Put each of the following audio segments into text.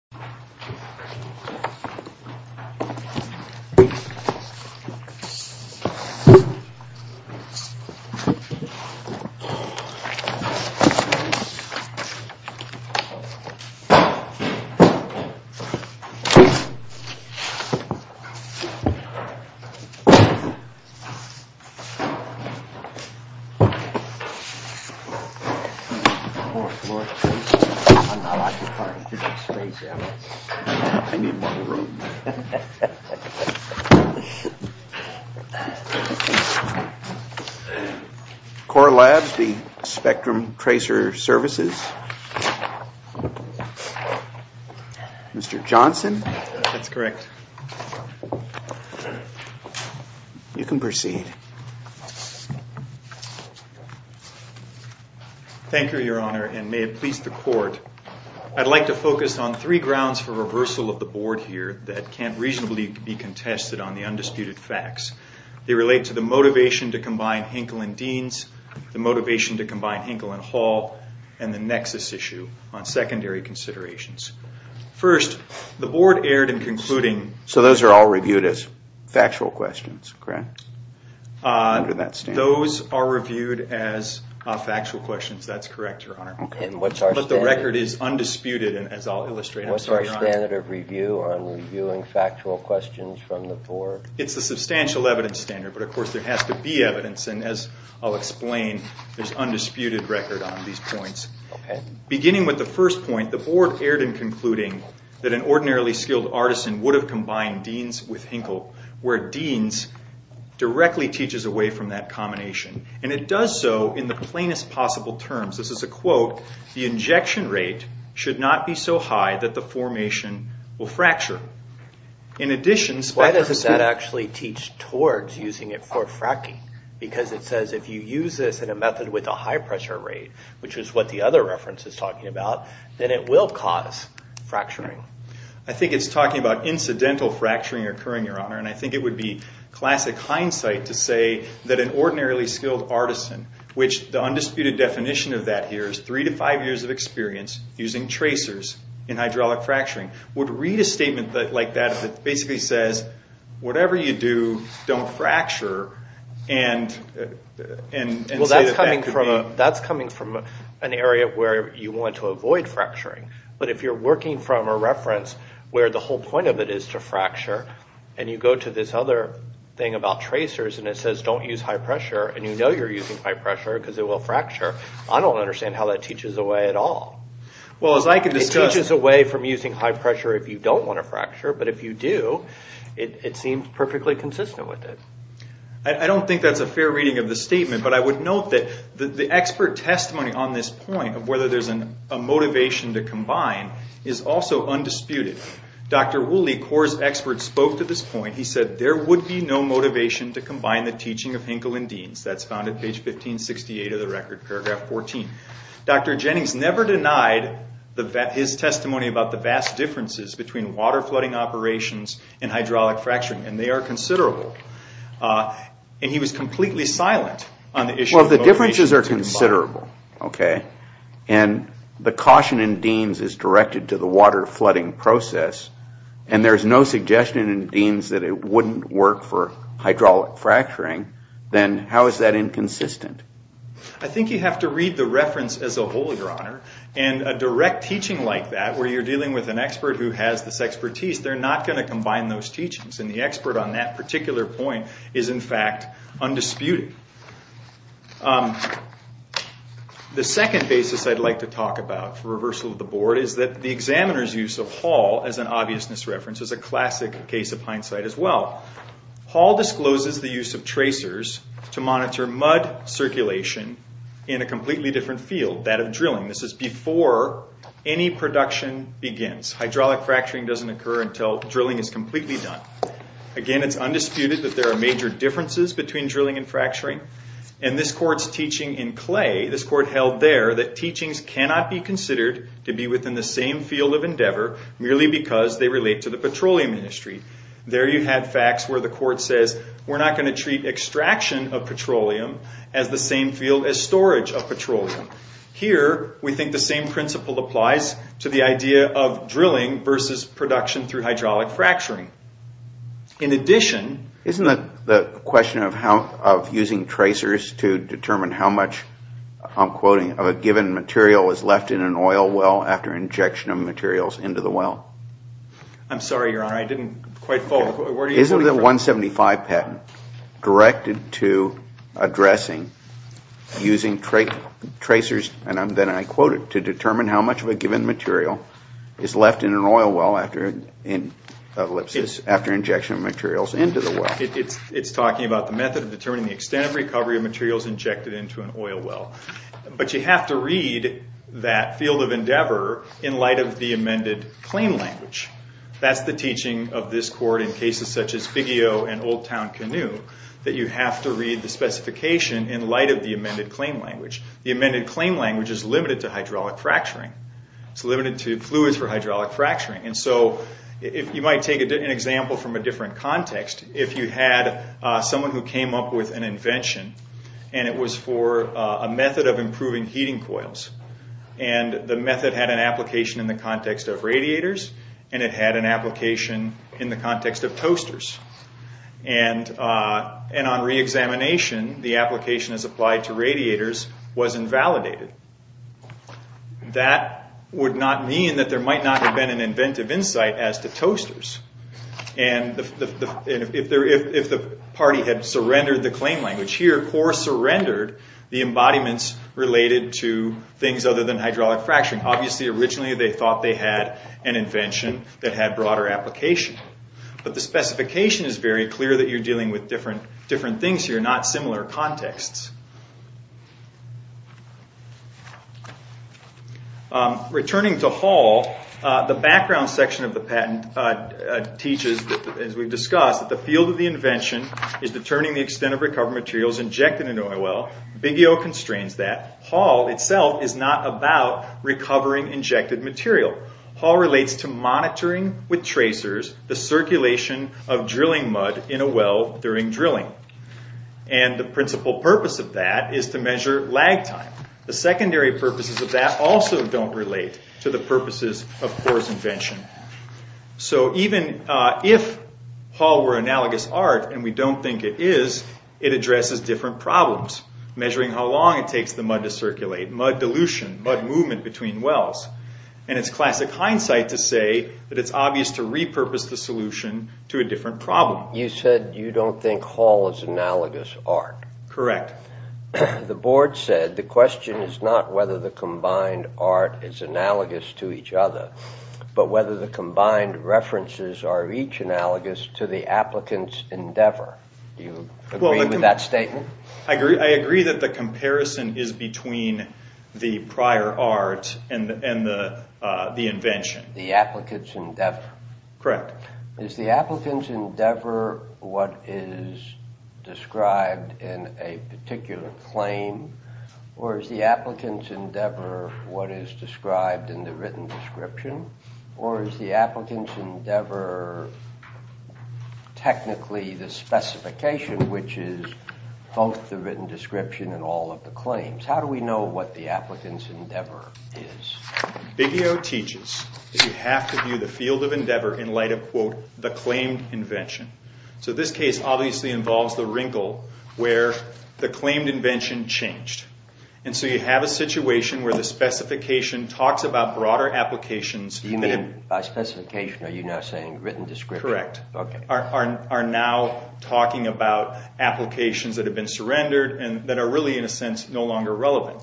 This is a demonstration of the LP version of the Spectrum Tracer. I need more room. Core Labs v. Spectrum Tracer Services Mr. Johnson? That's correct. You can proceed. Thank you, Your Honor, and may it please the Court, I'd like to focus on three grounds for reversal of the Board here that can't reasonably be contested on the undisputed facts. They relate to the motivation to combine Hinkle and Deans, the motivation to combine Hinkle and Hall, and the nexus issue on secondary considerations. First, the Board erred in concluding... So those are all reviewed as factual questions, correct? Those are reviewed as factual questions, that's correct, Your Honor. But the record is undisputed, and as I'll illustrate... What's our standard of review on reviewing factual questions from the Board? It's the substantial evidence standard, but of course there has to be evidence, and as I'll explain, there's undisputed record on these points. Beginning with the first point, the Board erred in concluding that an ordinarily skilled artisan would have combined Deans with Hinkle, where Deans directly teaches away from that combination, and it does so in the plainest possible terms. This is a quote, the injection rate should not be so high that the formation will fracture. In addition... Why does that actually teach towards using it for fracking? Because it says if you use this in a method with a high pressure rate, which is what the other reference is talking about, then it will cause fracturing. I think it's talking about incidental fracturing occurring, Your Honor, and I think it would be classic hindsight to say that an ordinarily skilled artisan, which the undisputed definition of that here is three to five years of experience using tracers in hydraulic fracturing, would read a statement like that if it basically says, whatever you do, don't fracture, and say that that could be... Well, that's coming from an area where you want to avoid fracturing, but if you're working from a reference where the whole point of it is to fracture, and you go to this other thing about tracers, and it says don't use high pressure, and you know you're using high pressure because it will fracture, I don't understand how that teaches away at all. Well, as I can discuss... It teaches away from using high pressure if you don't want to fracture, but if you do, it seems perfectly consistent with it. I don't think that's a fair reading of the statement, but I would note that the expert testimony on this point of whether there's a motivation to combine is also undisputed. Dr. Woolley, CORE's expert, spoke to this point. He said, there would be no motivation to combine the teaching of Hinkle and Deans. That's found at page 1568 of the record, paragraph 14. Dr. Jennings never denied his testimony about the vast differences between water flooding operations and hydraulic fracturing, and they are considerable. And he was completely silent on the issue of motivation to combine. Well, the differences are considerable, okay? And the caution in Deans is directed to the water flooding process, and there's no suggestion in Deans that it wouldn't work for hydraulic fracturing, then how is that inconsistent? I think you have to read the reference as a whole, Your Honor, and a direct teaching like that where you're dealing with an expert who has this expertise, they're not going to combine those teachings, and the expert on that particular point is, in fact, undisputed. The second basis I'd like to talk about for reversal of the board is that the examiner's use of Hall as an obviousness reference is a classic case of hindsight as well. Hall discloses the use of tracers to monitor mud circulation in a completely different field, that of drilling. This is before any production begins. Hydraulic fracturing doesn't occur until drilling is completely done. Again, it's undisputed that there are major differences between drilling and fracturing, and this court's teaching in Clay, this court held there, that teachings cannot be considered to be within the same field of endeavor merely because they relate to the petroleum industry. There you had facts where the court says we're not going to treat extraction of petroleum as the same field as storage of petroleum. Here, we think the same principle applies to the idea of drilling versus production through hydraulic fracturing. In addition... Isn't the question of using tracers to determine how much, I'm quoting, of a given material is left in an oil well after injection of materials into the well? I'm sorry, Your Honor, I didn't quite follow. Isn't the 175 patent directed to addressing using tracers, and then I quote it, to determine how much of a given material is left in an oil well after injection of materials into the well? It's talking about the method of determining the extent of recovery of materials injected into an oil well. But you have to read that field of endeavor in light of the amended claim language. That's the teaching of this court in cases such as Biggio and Old Town Canoe, that you have to read the specification in light of the amended claim language. The amended claim language is limited to hydraulic fracturing. It's limited to fluids for hydraulic fracturing. And so you might take an example from a different context. If you had someone who came up with an invention, and it was for a method of improving heating coils. And the method had an application in the context of radiators, and it had an application in the context of toasters. And on reexamination, the application as applied to radiators was invalidated. That would not mean that there might not have been an inventive insight as to toasters. And if the party had surrendered the claim language here, CORE surrendered the embodiments related to things other than hydraulic fracturing. Obviously, originally they thought they had an invention that had broader application. But the specification is very clear that you're dealing with different things here, not similar contexts. Returning to Hall, the background section of the patent teaches, as we've discussed, that the field of the invention is determining the extent of recovered materials injected into a well. Biggio constrains that. Hall itself is not about recovering injected material. Hall relates to monitoring with tracers the circulation of drilling mud in a well during drilling. And the principal purpose of that is to measure lag time. The secondary purposes of that also don't relate to the purposes of CORE's invention. So even if Hall were analogous art, and we don't think it is, it addresses different problems, measuring how long it takes the mud to circulate, mud dilution, mud movement between wells. And it's classic hindsight to say that it's obvious to repurpose the solution to a different problem. You said you don't think Hall is analogous art. Correct. The board said the question is not whether the combined art is analogous to each other, but whether the combined references are each analogous to the applicant's endeavor. Do you agree with that statement? I agree that the comparison is between the prior art and the invention. The applicant's endeavor. Correct. Is the applicant's endeavor what is described in a particular claim, or is the applicant's endeavor what is described in the written description, or is the applicant's endeavor technically the specification, which is both the written description and all of the claims? How do we know what the applicant's endeavor is? Biggio teaches that you have to view the field of endeavor in light of, quote, the claimed invention. So this case obviously involves the wrinkle where the claimed invention changed. And so you have a situation where the specification talks about broader applications. Do you mean by specification are you now saying written description? Correct. Okay. Are now talking about applications that have been surrendered and that are really in a sense no longer relevant.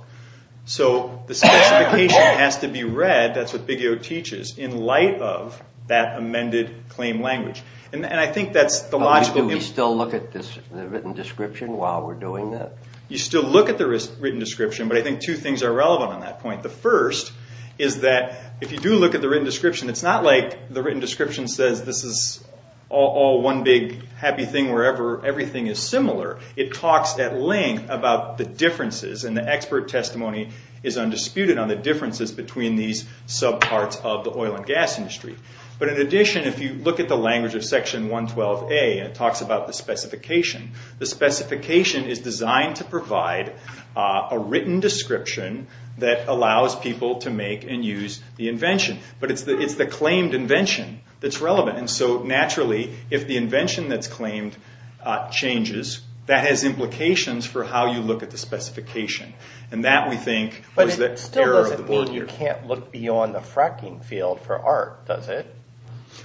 So the specification has to be read, that's what Biggio teaches, in light of that amended claim language. Do we still look at the written description while we're doing that? You still look at the written description, but I think two things are relevant on that point. The first is that if you do look at the written description, it's not like the written description says this is all one big happy thing wherever everything is similar. It talks at length about the differences, and the expert testimony is undisputed on the differences between these subparts of the oil and gas industry. But in addition, if you look at the language of Section 112A, it talks about the specification. The specification is designed to provide a written description that allows people to make and use the invention. But it's the claimed invention that's relevant. So naturally, if the invention that's claimed changes, that has implications for how you look at the specification. And that, we think, is the error of the board here. But it still doesn't mean you can't look beyond the fracking field for art, does it?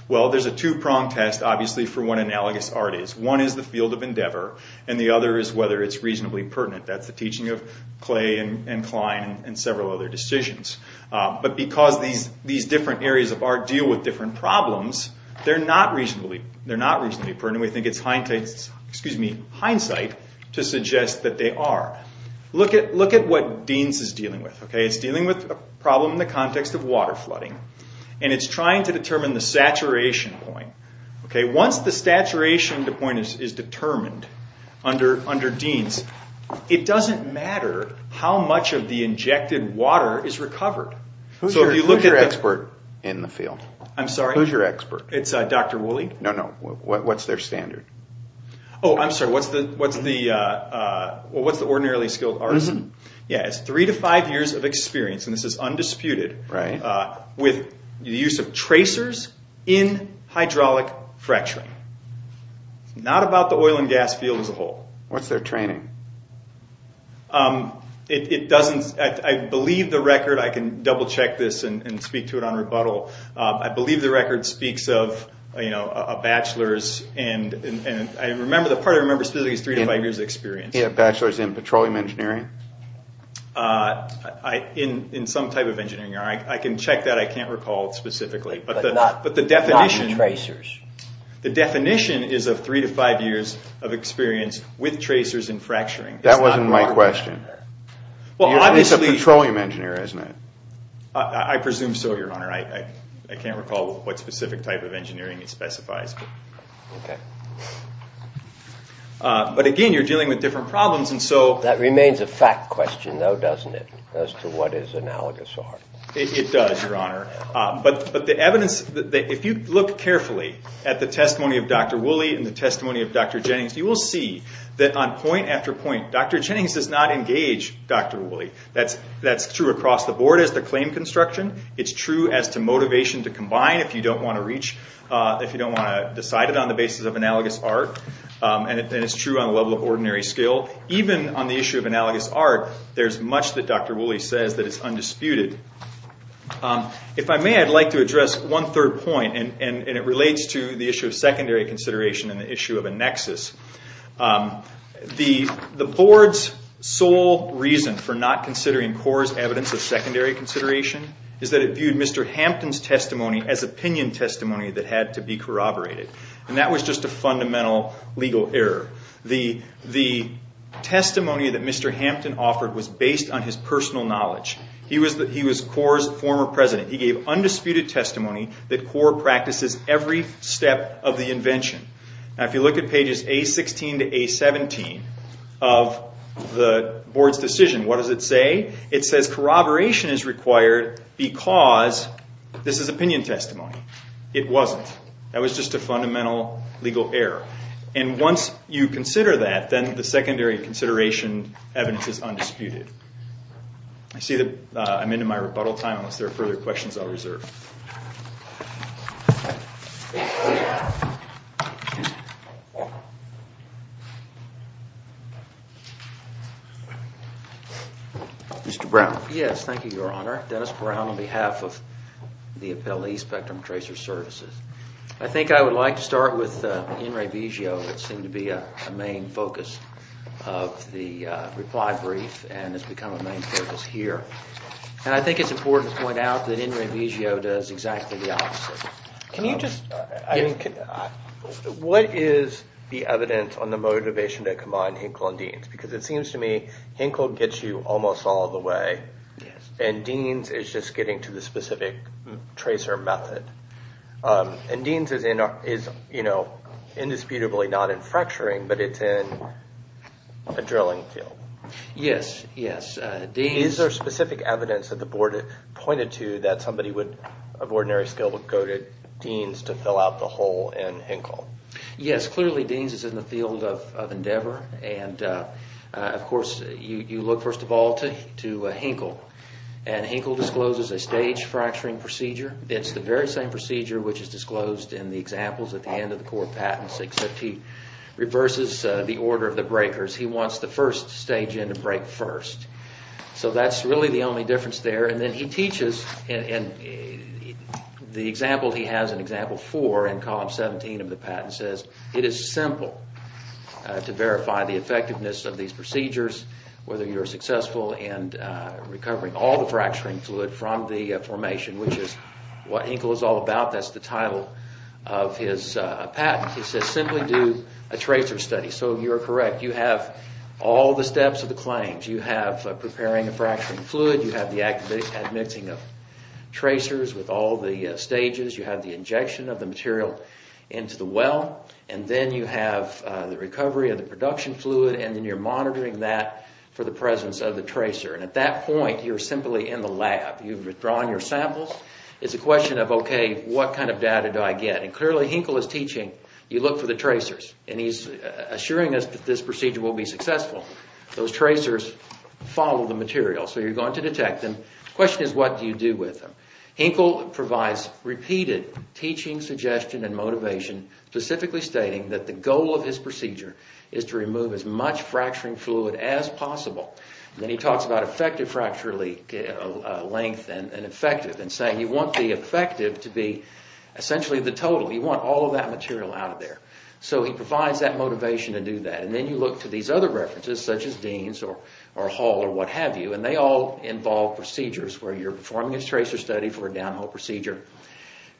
Well, there's a two-prong test, obviously, for what analogous art is. One is the field of endeavor, and the other is whether it's reasonably pertinent. That's the teaching of Clay and Klein and several other decisions. But because these different areas of art deal with different problems, they're not reasonably pertinent. We think it's hindsight to suggest that they are. Look at what Deans is dealing with. It's dealing with a problem in the context of water flooding, and it's trying to determine the saturation point. Once the saturation point is determined under Deans, it doesn't matter how much of the injected water is recovered. Who's your expert in the field? I'm sorry? Who's your expert? It's Dr. Woolley. No, no. What's their standard? Oh, I'm sorry. What's the ordinarily skilled artist? It's three to five years of experience, and this is undisputed, with the use of tracers in hydraulic fracturing. It's not about the oil and gas field as a whole. What's their training? I believe the record, I can double-check this and speak to it on rebuttal. I believe the record speaks of a bachelor's, and the part I remember specifically is three to five years of experience. Yeah, a bachelor's in petroleum engineering. In some type of engineering. I can check that. I can't recall specifically. But not tracers. The definition is of three to five years of experience with tracers in fracturing. That wasn't my question. He's a petroleum engineer, isn't he? I presume so, Your Honor. I can't recall what specific type of engineering it specifies. Okay. But, again, you're dealing with different problems, and so— That remains a fact question, though, doesn't it, as to what his analogous are? It does, Your Honor. But the evidence— If you look carefully at the testimony of Dr. Woolley and the testimony of Dr. Jennings, you will see that on point after point, Dr. Jennings does not engage Dr. Woolley. That's true across the board as to claim construction. It's true as to motivation to combine if you don't want to reach— if you don't want to decide it on the basis of analogous art. And it's true on the level of ordinary skill. Even on the issue of analogous art, there's much that Dr. Woolley says that is undisputed. If I may, I'd like to address one third point, and it relates to the issue of secondary consideration and the issue of a nexus. The board's sole reason for not considering Korr's evidence of secondary consideration is that it viewed Mr. Hampton's testimony as opinion testimony that had to be corroborated. And that was just a fundamental legal error. The testimony that Mr. Hampton offered was based on his personal knowledge. He was Korr's former president. He gave undisputed testimony that Korr practices every step of the invention. Now, if you look at pages A16 to A17 of the board's decision, what does it say? It says corroboration is required because this is opinion testimony. It wasn't. That was just a fundamental legal error. And once you consider that, then the secondary consideration evidence is undisputed. I see that I'm into my rebuttal time. Unless there are further questions, I'll reserve. Mr. Brown. Yes, thank you, Your Honor. Dennis Brown on behalf of the Appellee Spectrum Tracer Services. I think I would like to start with Ian Rabizio, who seemed to be a main focus of the reply brief and has become a main focus here. And I think it's important to point out that Ian Rabizio does exactly the opposite. What is the evidence on the motivation to combine Hinkle and Deans? Because it seems to me Hinkle gets you almost all the way, and Deans is just getting to the specific tracer method. And Deans is indisputably not in fracturing, but it's in a drilling field. Yes, yes. Is there specific evidence that the board pointed to that somebody of ordinary skill would go to Deans to fill out the hole in Hinkle? Yes, clearly Deans is in the field of endeavor. And, of course, you look, first of all, to Hinkle. And Hinkle discloses a stage fracturing procedure. It's the very same procedure which is disclosed in the examples at the end of the core patents, except he reverses the order of the breakers. He wants the first stage in to break first. So that's really the only difference there. And then he teaches, and the example he has in example 4 in column 17 of the patent says it is simple to verify the effectiveness of these procedures, whether you're successful in recovering all the fracturing fluid from the formation, which is what Hinkle is all about. That's the title of his patent. He says simply do a tracer study. So you're correct. You have all the steps of the claims. You have preparing a fracturing fluid. You have the admixing of tracers with all the stages. You have the injection of the material into the well. And then you have the recovery of the production fluid, and then you're monitoring that for the presence of the tracer. And at that point, you're simply in the lab. You've withdrawn your samples. It's a question of, okay, what kind of data do I get? And clearly Hinkle is teaching you look for the tracers, and he's assuring us that this procedure will be successful. Those tracers follow the material, so you're going to detect them. The question is what do you do with them? Hinkle provides repeated teaching suggestion and motivation, specifically stating that the goal of his procedure is to remove as much fracturing fluid as possible. Then he talks about effective fracture length and effective and saying you want the effective to be essentially the total. You want all of that material out of there. So he provides that motivation to do that. And then you look to these other references, such as Deans or Hall or what have you, and they all involve procedures where you're performing a tracer study for a downhole procedure,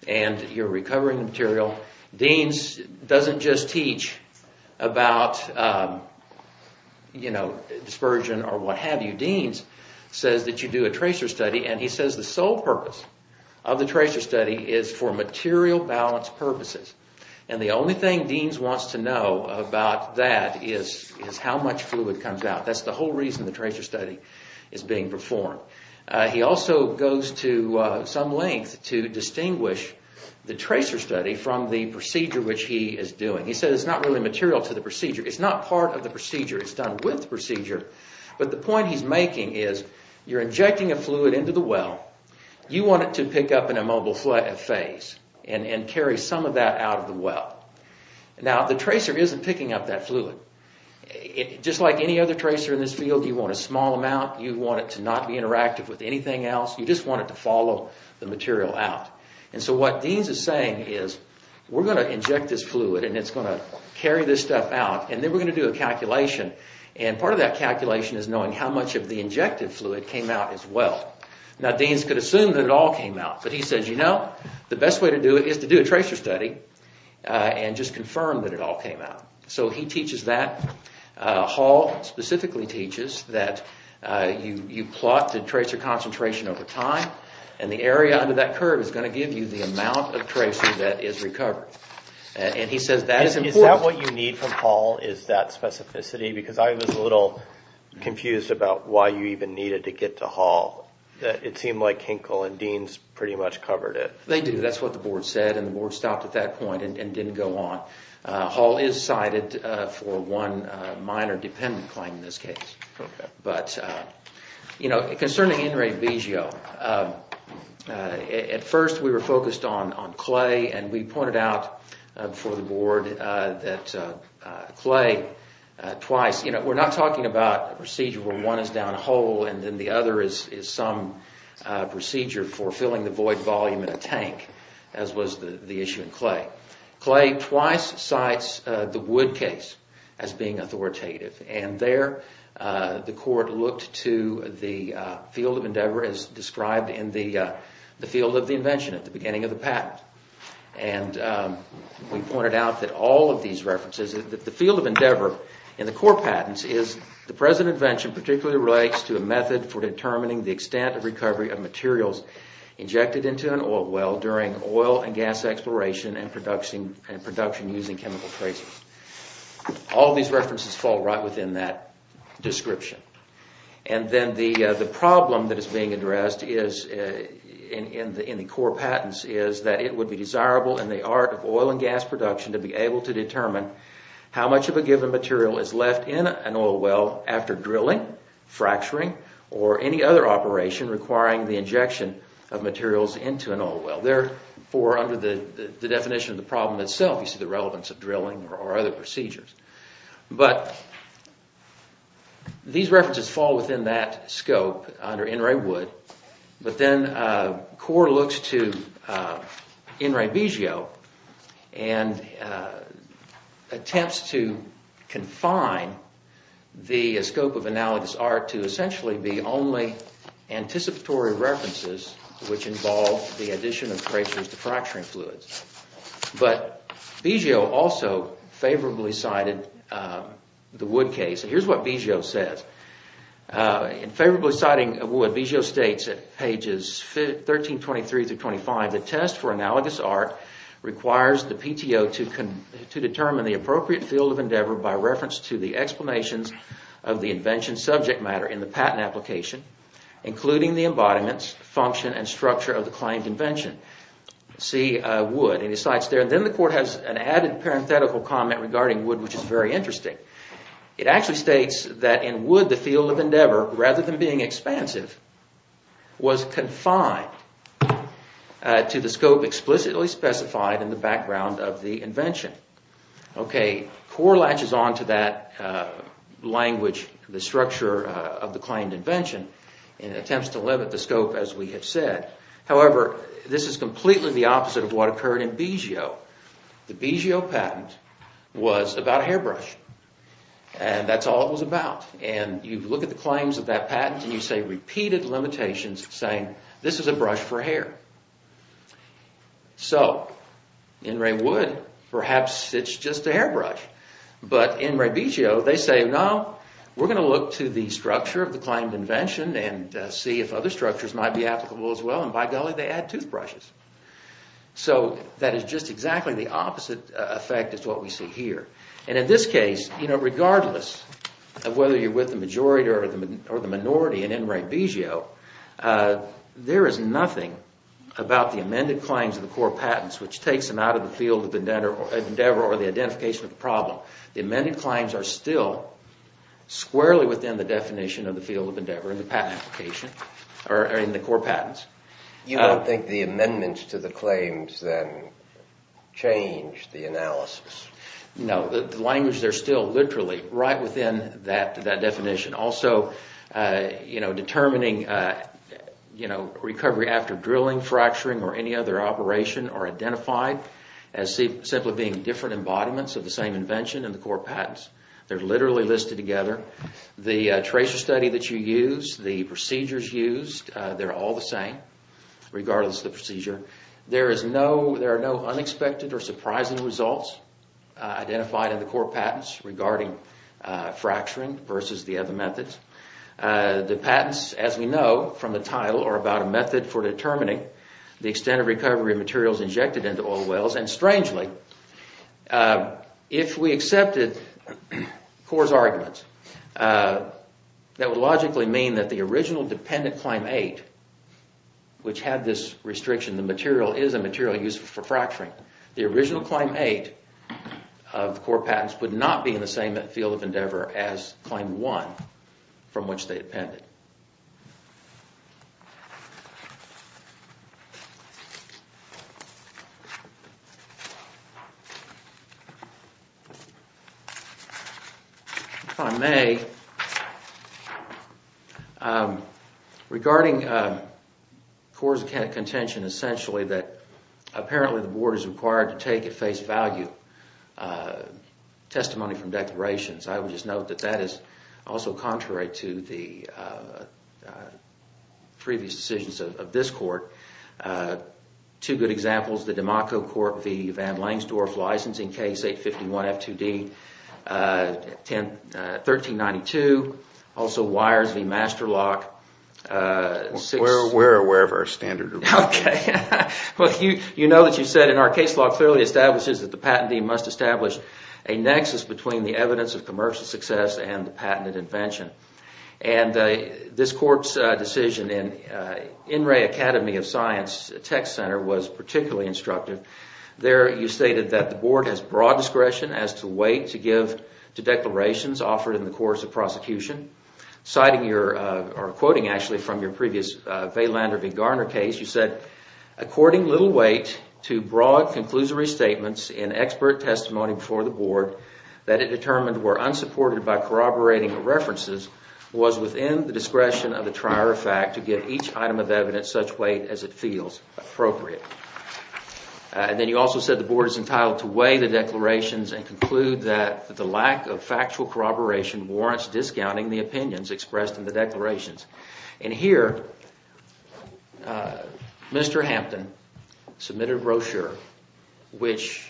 and you're recovering the material. Deans doesn't just teach about dispersion or what have you. Deans says that you do a tracer study, and he says the sole purpose of the tracer study is for material balance purposes. And the only thing Deans wants to know about that is how much fluid comes out. That's the whole reason the tracer study is being performed. He also goes to some length to distinguish the tracer study from the procedure which he is doing. He says it's not really material to the procedure. It's not part of the procedure. It's done with the procedure. But the point he's making is you're injecting a fluid into the well. You want it to pick up in a mobile phase and carry some of that out of the well. Now, the tracer isn't picking up that fluid. Just like any other tracer in this field, you want a small amount. You want it to not be interactive with anything else. You just want it to follow the material out. And so what Deans is saying is we're going to inject this fluid, and it's going to carry this stuff out, and then we're going to do a calculation. And part of that calculation is knowing how much of the injective fluid came out as well. Now, Deans could assume that it all came out, but he says, you know, the best way to do it is to do a tracer study and just confirm that it all came out. So he teaches that. Hall specifically teaches that you plot the tracer concentration over time, and the area under that curve is going to give you the amount of tracer that is recovered. And he says that is important. Is that what you need from Hall, is that specificity? Because I was a little confused about why you even needed to get to Hall. It seemed like Hinkle and Deans pretty much covered it. They do. That's what the board said, and the board stopped at that point and didn't go on. Hall is cited for one minor dependent claim in this case. Okay. But, you know, concerning Enre Vigio, at first we were focused on clay, and we pointed out for the board that clay twice, you know, we're not talking about a procedure where one is down a hole and then the other is some procedure for filling the void volume in a tank, as was the issue in clay. Clay twice cites the Wood case as being authoritative, and there the court looked to the field of endeavor, as described in the field of the invention at the beginning of the patent. And we pointed out that all of these references, the field of endeavor in the core patents is the present invention particularly relates to a method for determining the extent of recovery of materials injected into an oil well during oil and gas exploration and production using chemical tracers. All of these references fall right within that description. And then the problem that is being addressed in the core patents is that it would be desirable in the art of oil and gas production to be able to determine how much of a given material is left in an oil well after drilling, fracturing, or any other operation requiring the injection of materials into an oil well. Therefore, under the definition of the problem itself, you see the relevance of drilling or other procedures. But these references fall within that scope under NRA Wood. But then the court looks to NRA BGO and attempts to confine the scope of analogous art to essentially be only anticipatory references which involve the addition of tracers to fracturing fluids. But BGO also favorably cited the Wood case. Here's what BGO says. In favorably citing Wood, BGO states at pages 1323-25, the test for analogous art requires the PTO to determine the appropriate field of endeavor by reference to the explanations of the invention subject matter in the patent application, including the embodiments, function, and structure of the claimed invention. See Wood in his slides there. Then the court has an added parenthetical comment regarding Wood which is very interesting. It actually states that in Wood, the field of endeavor, rather than being expansive, was confined to the scope explicitly specified in the background of the invention. Court latches on to that language, the structure of the claimed invention and attempts to limit the scope as we have said. However, this is completely the opposite of what occurred in BGO. The BGO patent was about a hairbrush. That's all it was about. You look at the claims of that patent and you see repeated limitations saying this is a brush for hair. In Ray Wood, perhaps it's just a hairbrush. But in Ray BGO, they say, no, we're going to look to the structure of the claimed invention and see if other structures might be applicable as well. By golly, they add toothbrushes. That is just exactly the opposite effect of what we see here. In this case, regardless of whether you're with the majority or the minority in Ray BGO, there is nothing about the amended claims of the core patents which takes them out of the field of endeavor or the identification of the problem. The amended claims are still squarely within the definition of the field of endeavor in the patent application, or in the core patents. You don't think the amendments to the claims then change the analysis? No. The language there is still literally right within that definition. Also, determining recovery after drilling, fracturing, or any other operation are identified as simply being different embodiments of the same invention in the core patents. They're literally listed together. The tracer study that you use, the procedures used, they're all the same regardless of the procedure. There are no unexpected or surprising results identified in the core patents regarding fracturing versus the other methods. The patents, as we know from the title, are about a method for determining the extent of recovery of materials injected into oil wells. Strangely, if we accepted core's arguments, that would logically mean that the original dependent claim 8, which had this restriction, the material is a material used for fracturing. The original claim 8 of core patents would not be in the same field of endeavor as claim 1 from which they depended. If I may, regarding core's contention, essentially, that apparently the board is required to take at face value testimony from declarations, I would just note that that is also contrary to the previous decisions of this court. Two good examples, the DeMocco Court v. Van Langsdorff licensing case, 851 F2D, 1392. Also, Weyers v. Master Lock. We're aware of our standard. Okay. You know that you said, and our case law clearly establishes that the patentee must establish a nexus between the evidence of commercial success and the patented invention. And this court's decision in In Re Academy of Science text center was particularly instructive. There, you stated that the board has broad discretion as to the weight to give to declarations offered in the course of prosecution. Citing your, or quoting actually from your previous Weylander v. Garner case, you said, According little weight to broad conclusory statements in expert testimony before the board that it determined were unsupported by corroborating references was within the discretion of the trier of fact to give each item of evidence such weight as it feels appropriate. And then you also said the board is entitled to weigh the declarations and conclude that the lack of factual corroboration warrants discounting the opinions expressed in the declarations. And here, Mr. Hampton submitted a brochure which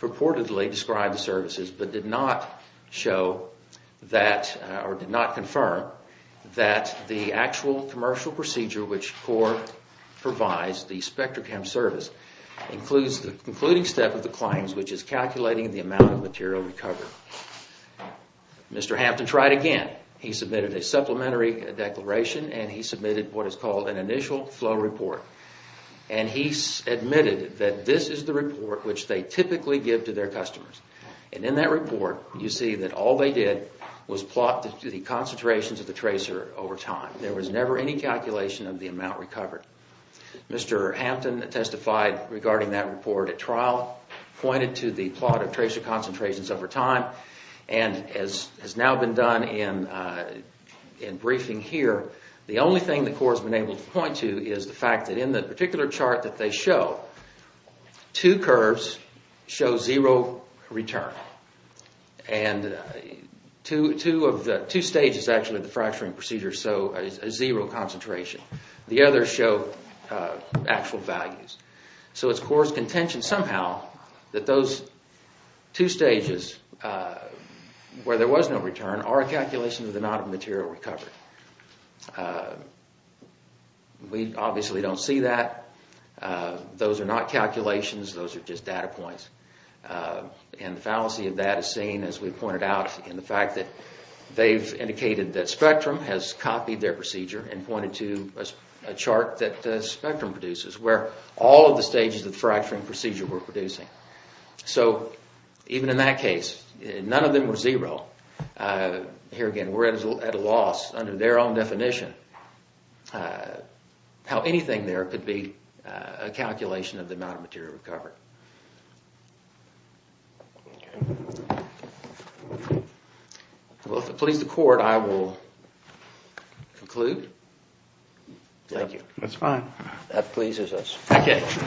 purportedly described the services but did not show that, or did not confirm that the actual commercial procedure which the court provides, the spectrochem service, includes the concluding step of the claims which is calculating the amount of material recovered. Mr. Hampton tried again. He submitted a supplementary declaration and he submitted what is called an initial flow report. And he admitted that this is the report which they typically give to their customers. And in that report, you see that all they did was plot the concentrations of the tracer over time. There was never any calculation of the amount recovered. Mr. Hampton testified regarding that report at trial, pointed to the plot of tracer concentrations over time, and as has now been done in briefing here, the only thing the court has been able to point to is the fact that in the particular chart that they show, two curves show zero return. And two stages actually of the fracturing procedure show a zero concentration. The others show actual values. So it's court's contention somehow that those two stages where there was no return are a calculation of the amount of material recovered. We obviously don't see that. Those are not calculations. Those are just data points. And the fallacy of that is seen, as we pointed out, in the fact that they've indicated that Spectrum has copied their procedure and pointed to a chart that Spectrum produces where all of the stages of the fracturing procedure were producing. So even in that case, none of them were zero. Here again, we're at a loss under their own definition how anything there could be a calculation of the amount of material recovered. Well, if it pleases the court, I will conclude. Thank you. That's fine. That pleases us. Thank you.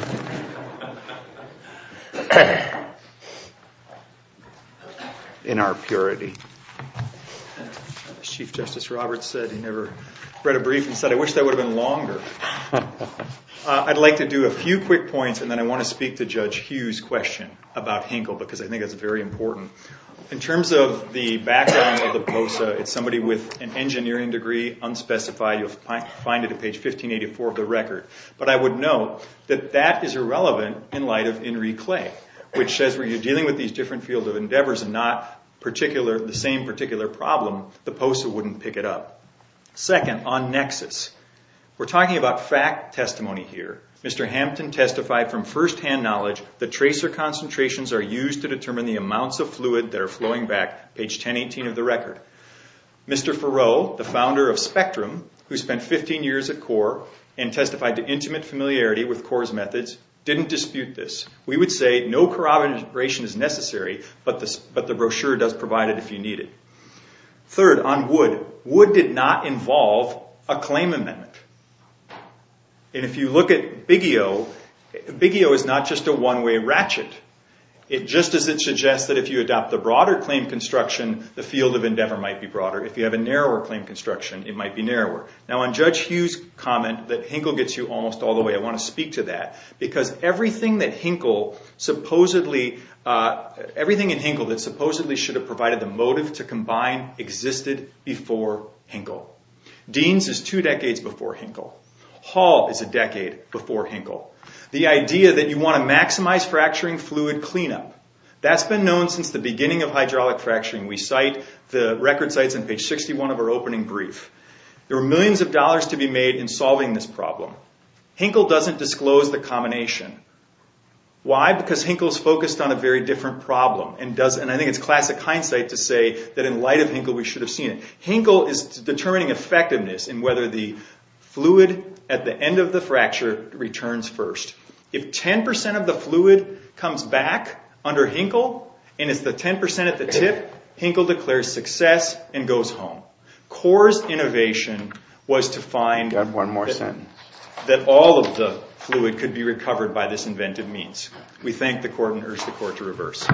In our purity. As Chief Justice Roberts said, he never read a brief and said, I wish that would have been longer. I'd like to do a few quick points, and then I want to speak to Judge Hughes' question about Hinkle because I think that's very important. In terms of the background of the POSA, it's somebody with an engineering degree, unspecified. You'll find it at page 1584 of the record. But I would note that that is irrelevant in light of Henry Clay, which says when you're dealing with these different fields of endeavors and not the same particular problem, the POSA wouldn't pick it up. Second, on nexus. We're talking about fact testimony here. Mr. Hampton testified from firsthand knowledge that tracer concentrations are used to determine the amounts of fluid that are flowing back, page 1018 of the record. Mr. Farrow, the founder of Spectrum, who spent 15 years at CORE and testified to intimate familiarity with CORE's methods, didn't dispute this. We would say no corroboration is necessary, but the brochure does provide it if you need it. Third, on wood. Wood did not involve a claim amendment. And if you look at Biggio, Biggio is not just a one-way ratchet. Just as it suggests that if you adopt the broader claim construction, the field of endeavor might be broader. If you have a narrower claim construction, it might be narrower. Now, on Judge Hughes' comment that Hinkle gets you almost all the way, I want to speak to that because everything in Hinkle that supposedly should have provided the motive to combine existed before Hinkle. Deans is two decades before Hinkle. Hall is a decade before Hinkle. The idea that you want to maximize fracturing fluid cleanup, that's been known since the beginning of hydraulic fracturing. We cite the record sites on page 61 of our opening brief. There were millions of dollars to be made in solving this problem. Hinkle doesn't disclose the combination. Why? Because Hinkle is focused on a very different problem. And I think it's classic hindsight to say that in light of Hinkle, we should have seen it. Hinkle is determining effectiveness in whether the fluid at the end of the fracture returns first. If 10% of the fluid comes back under Hinkle, and it's the 10% at the tip, Hinkle declares success and goes home. Core's innovation was to find that all of the fluid could be recovered by this inventive means. We thank the Court and urge the Court to reverse.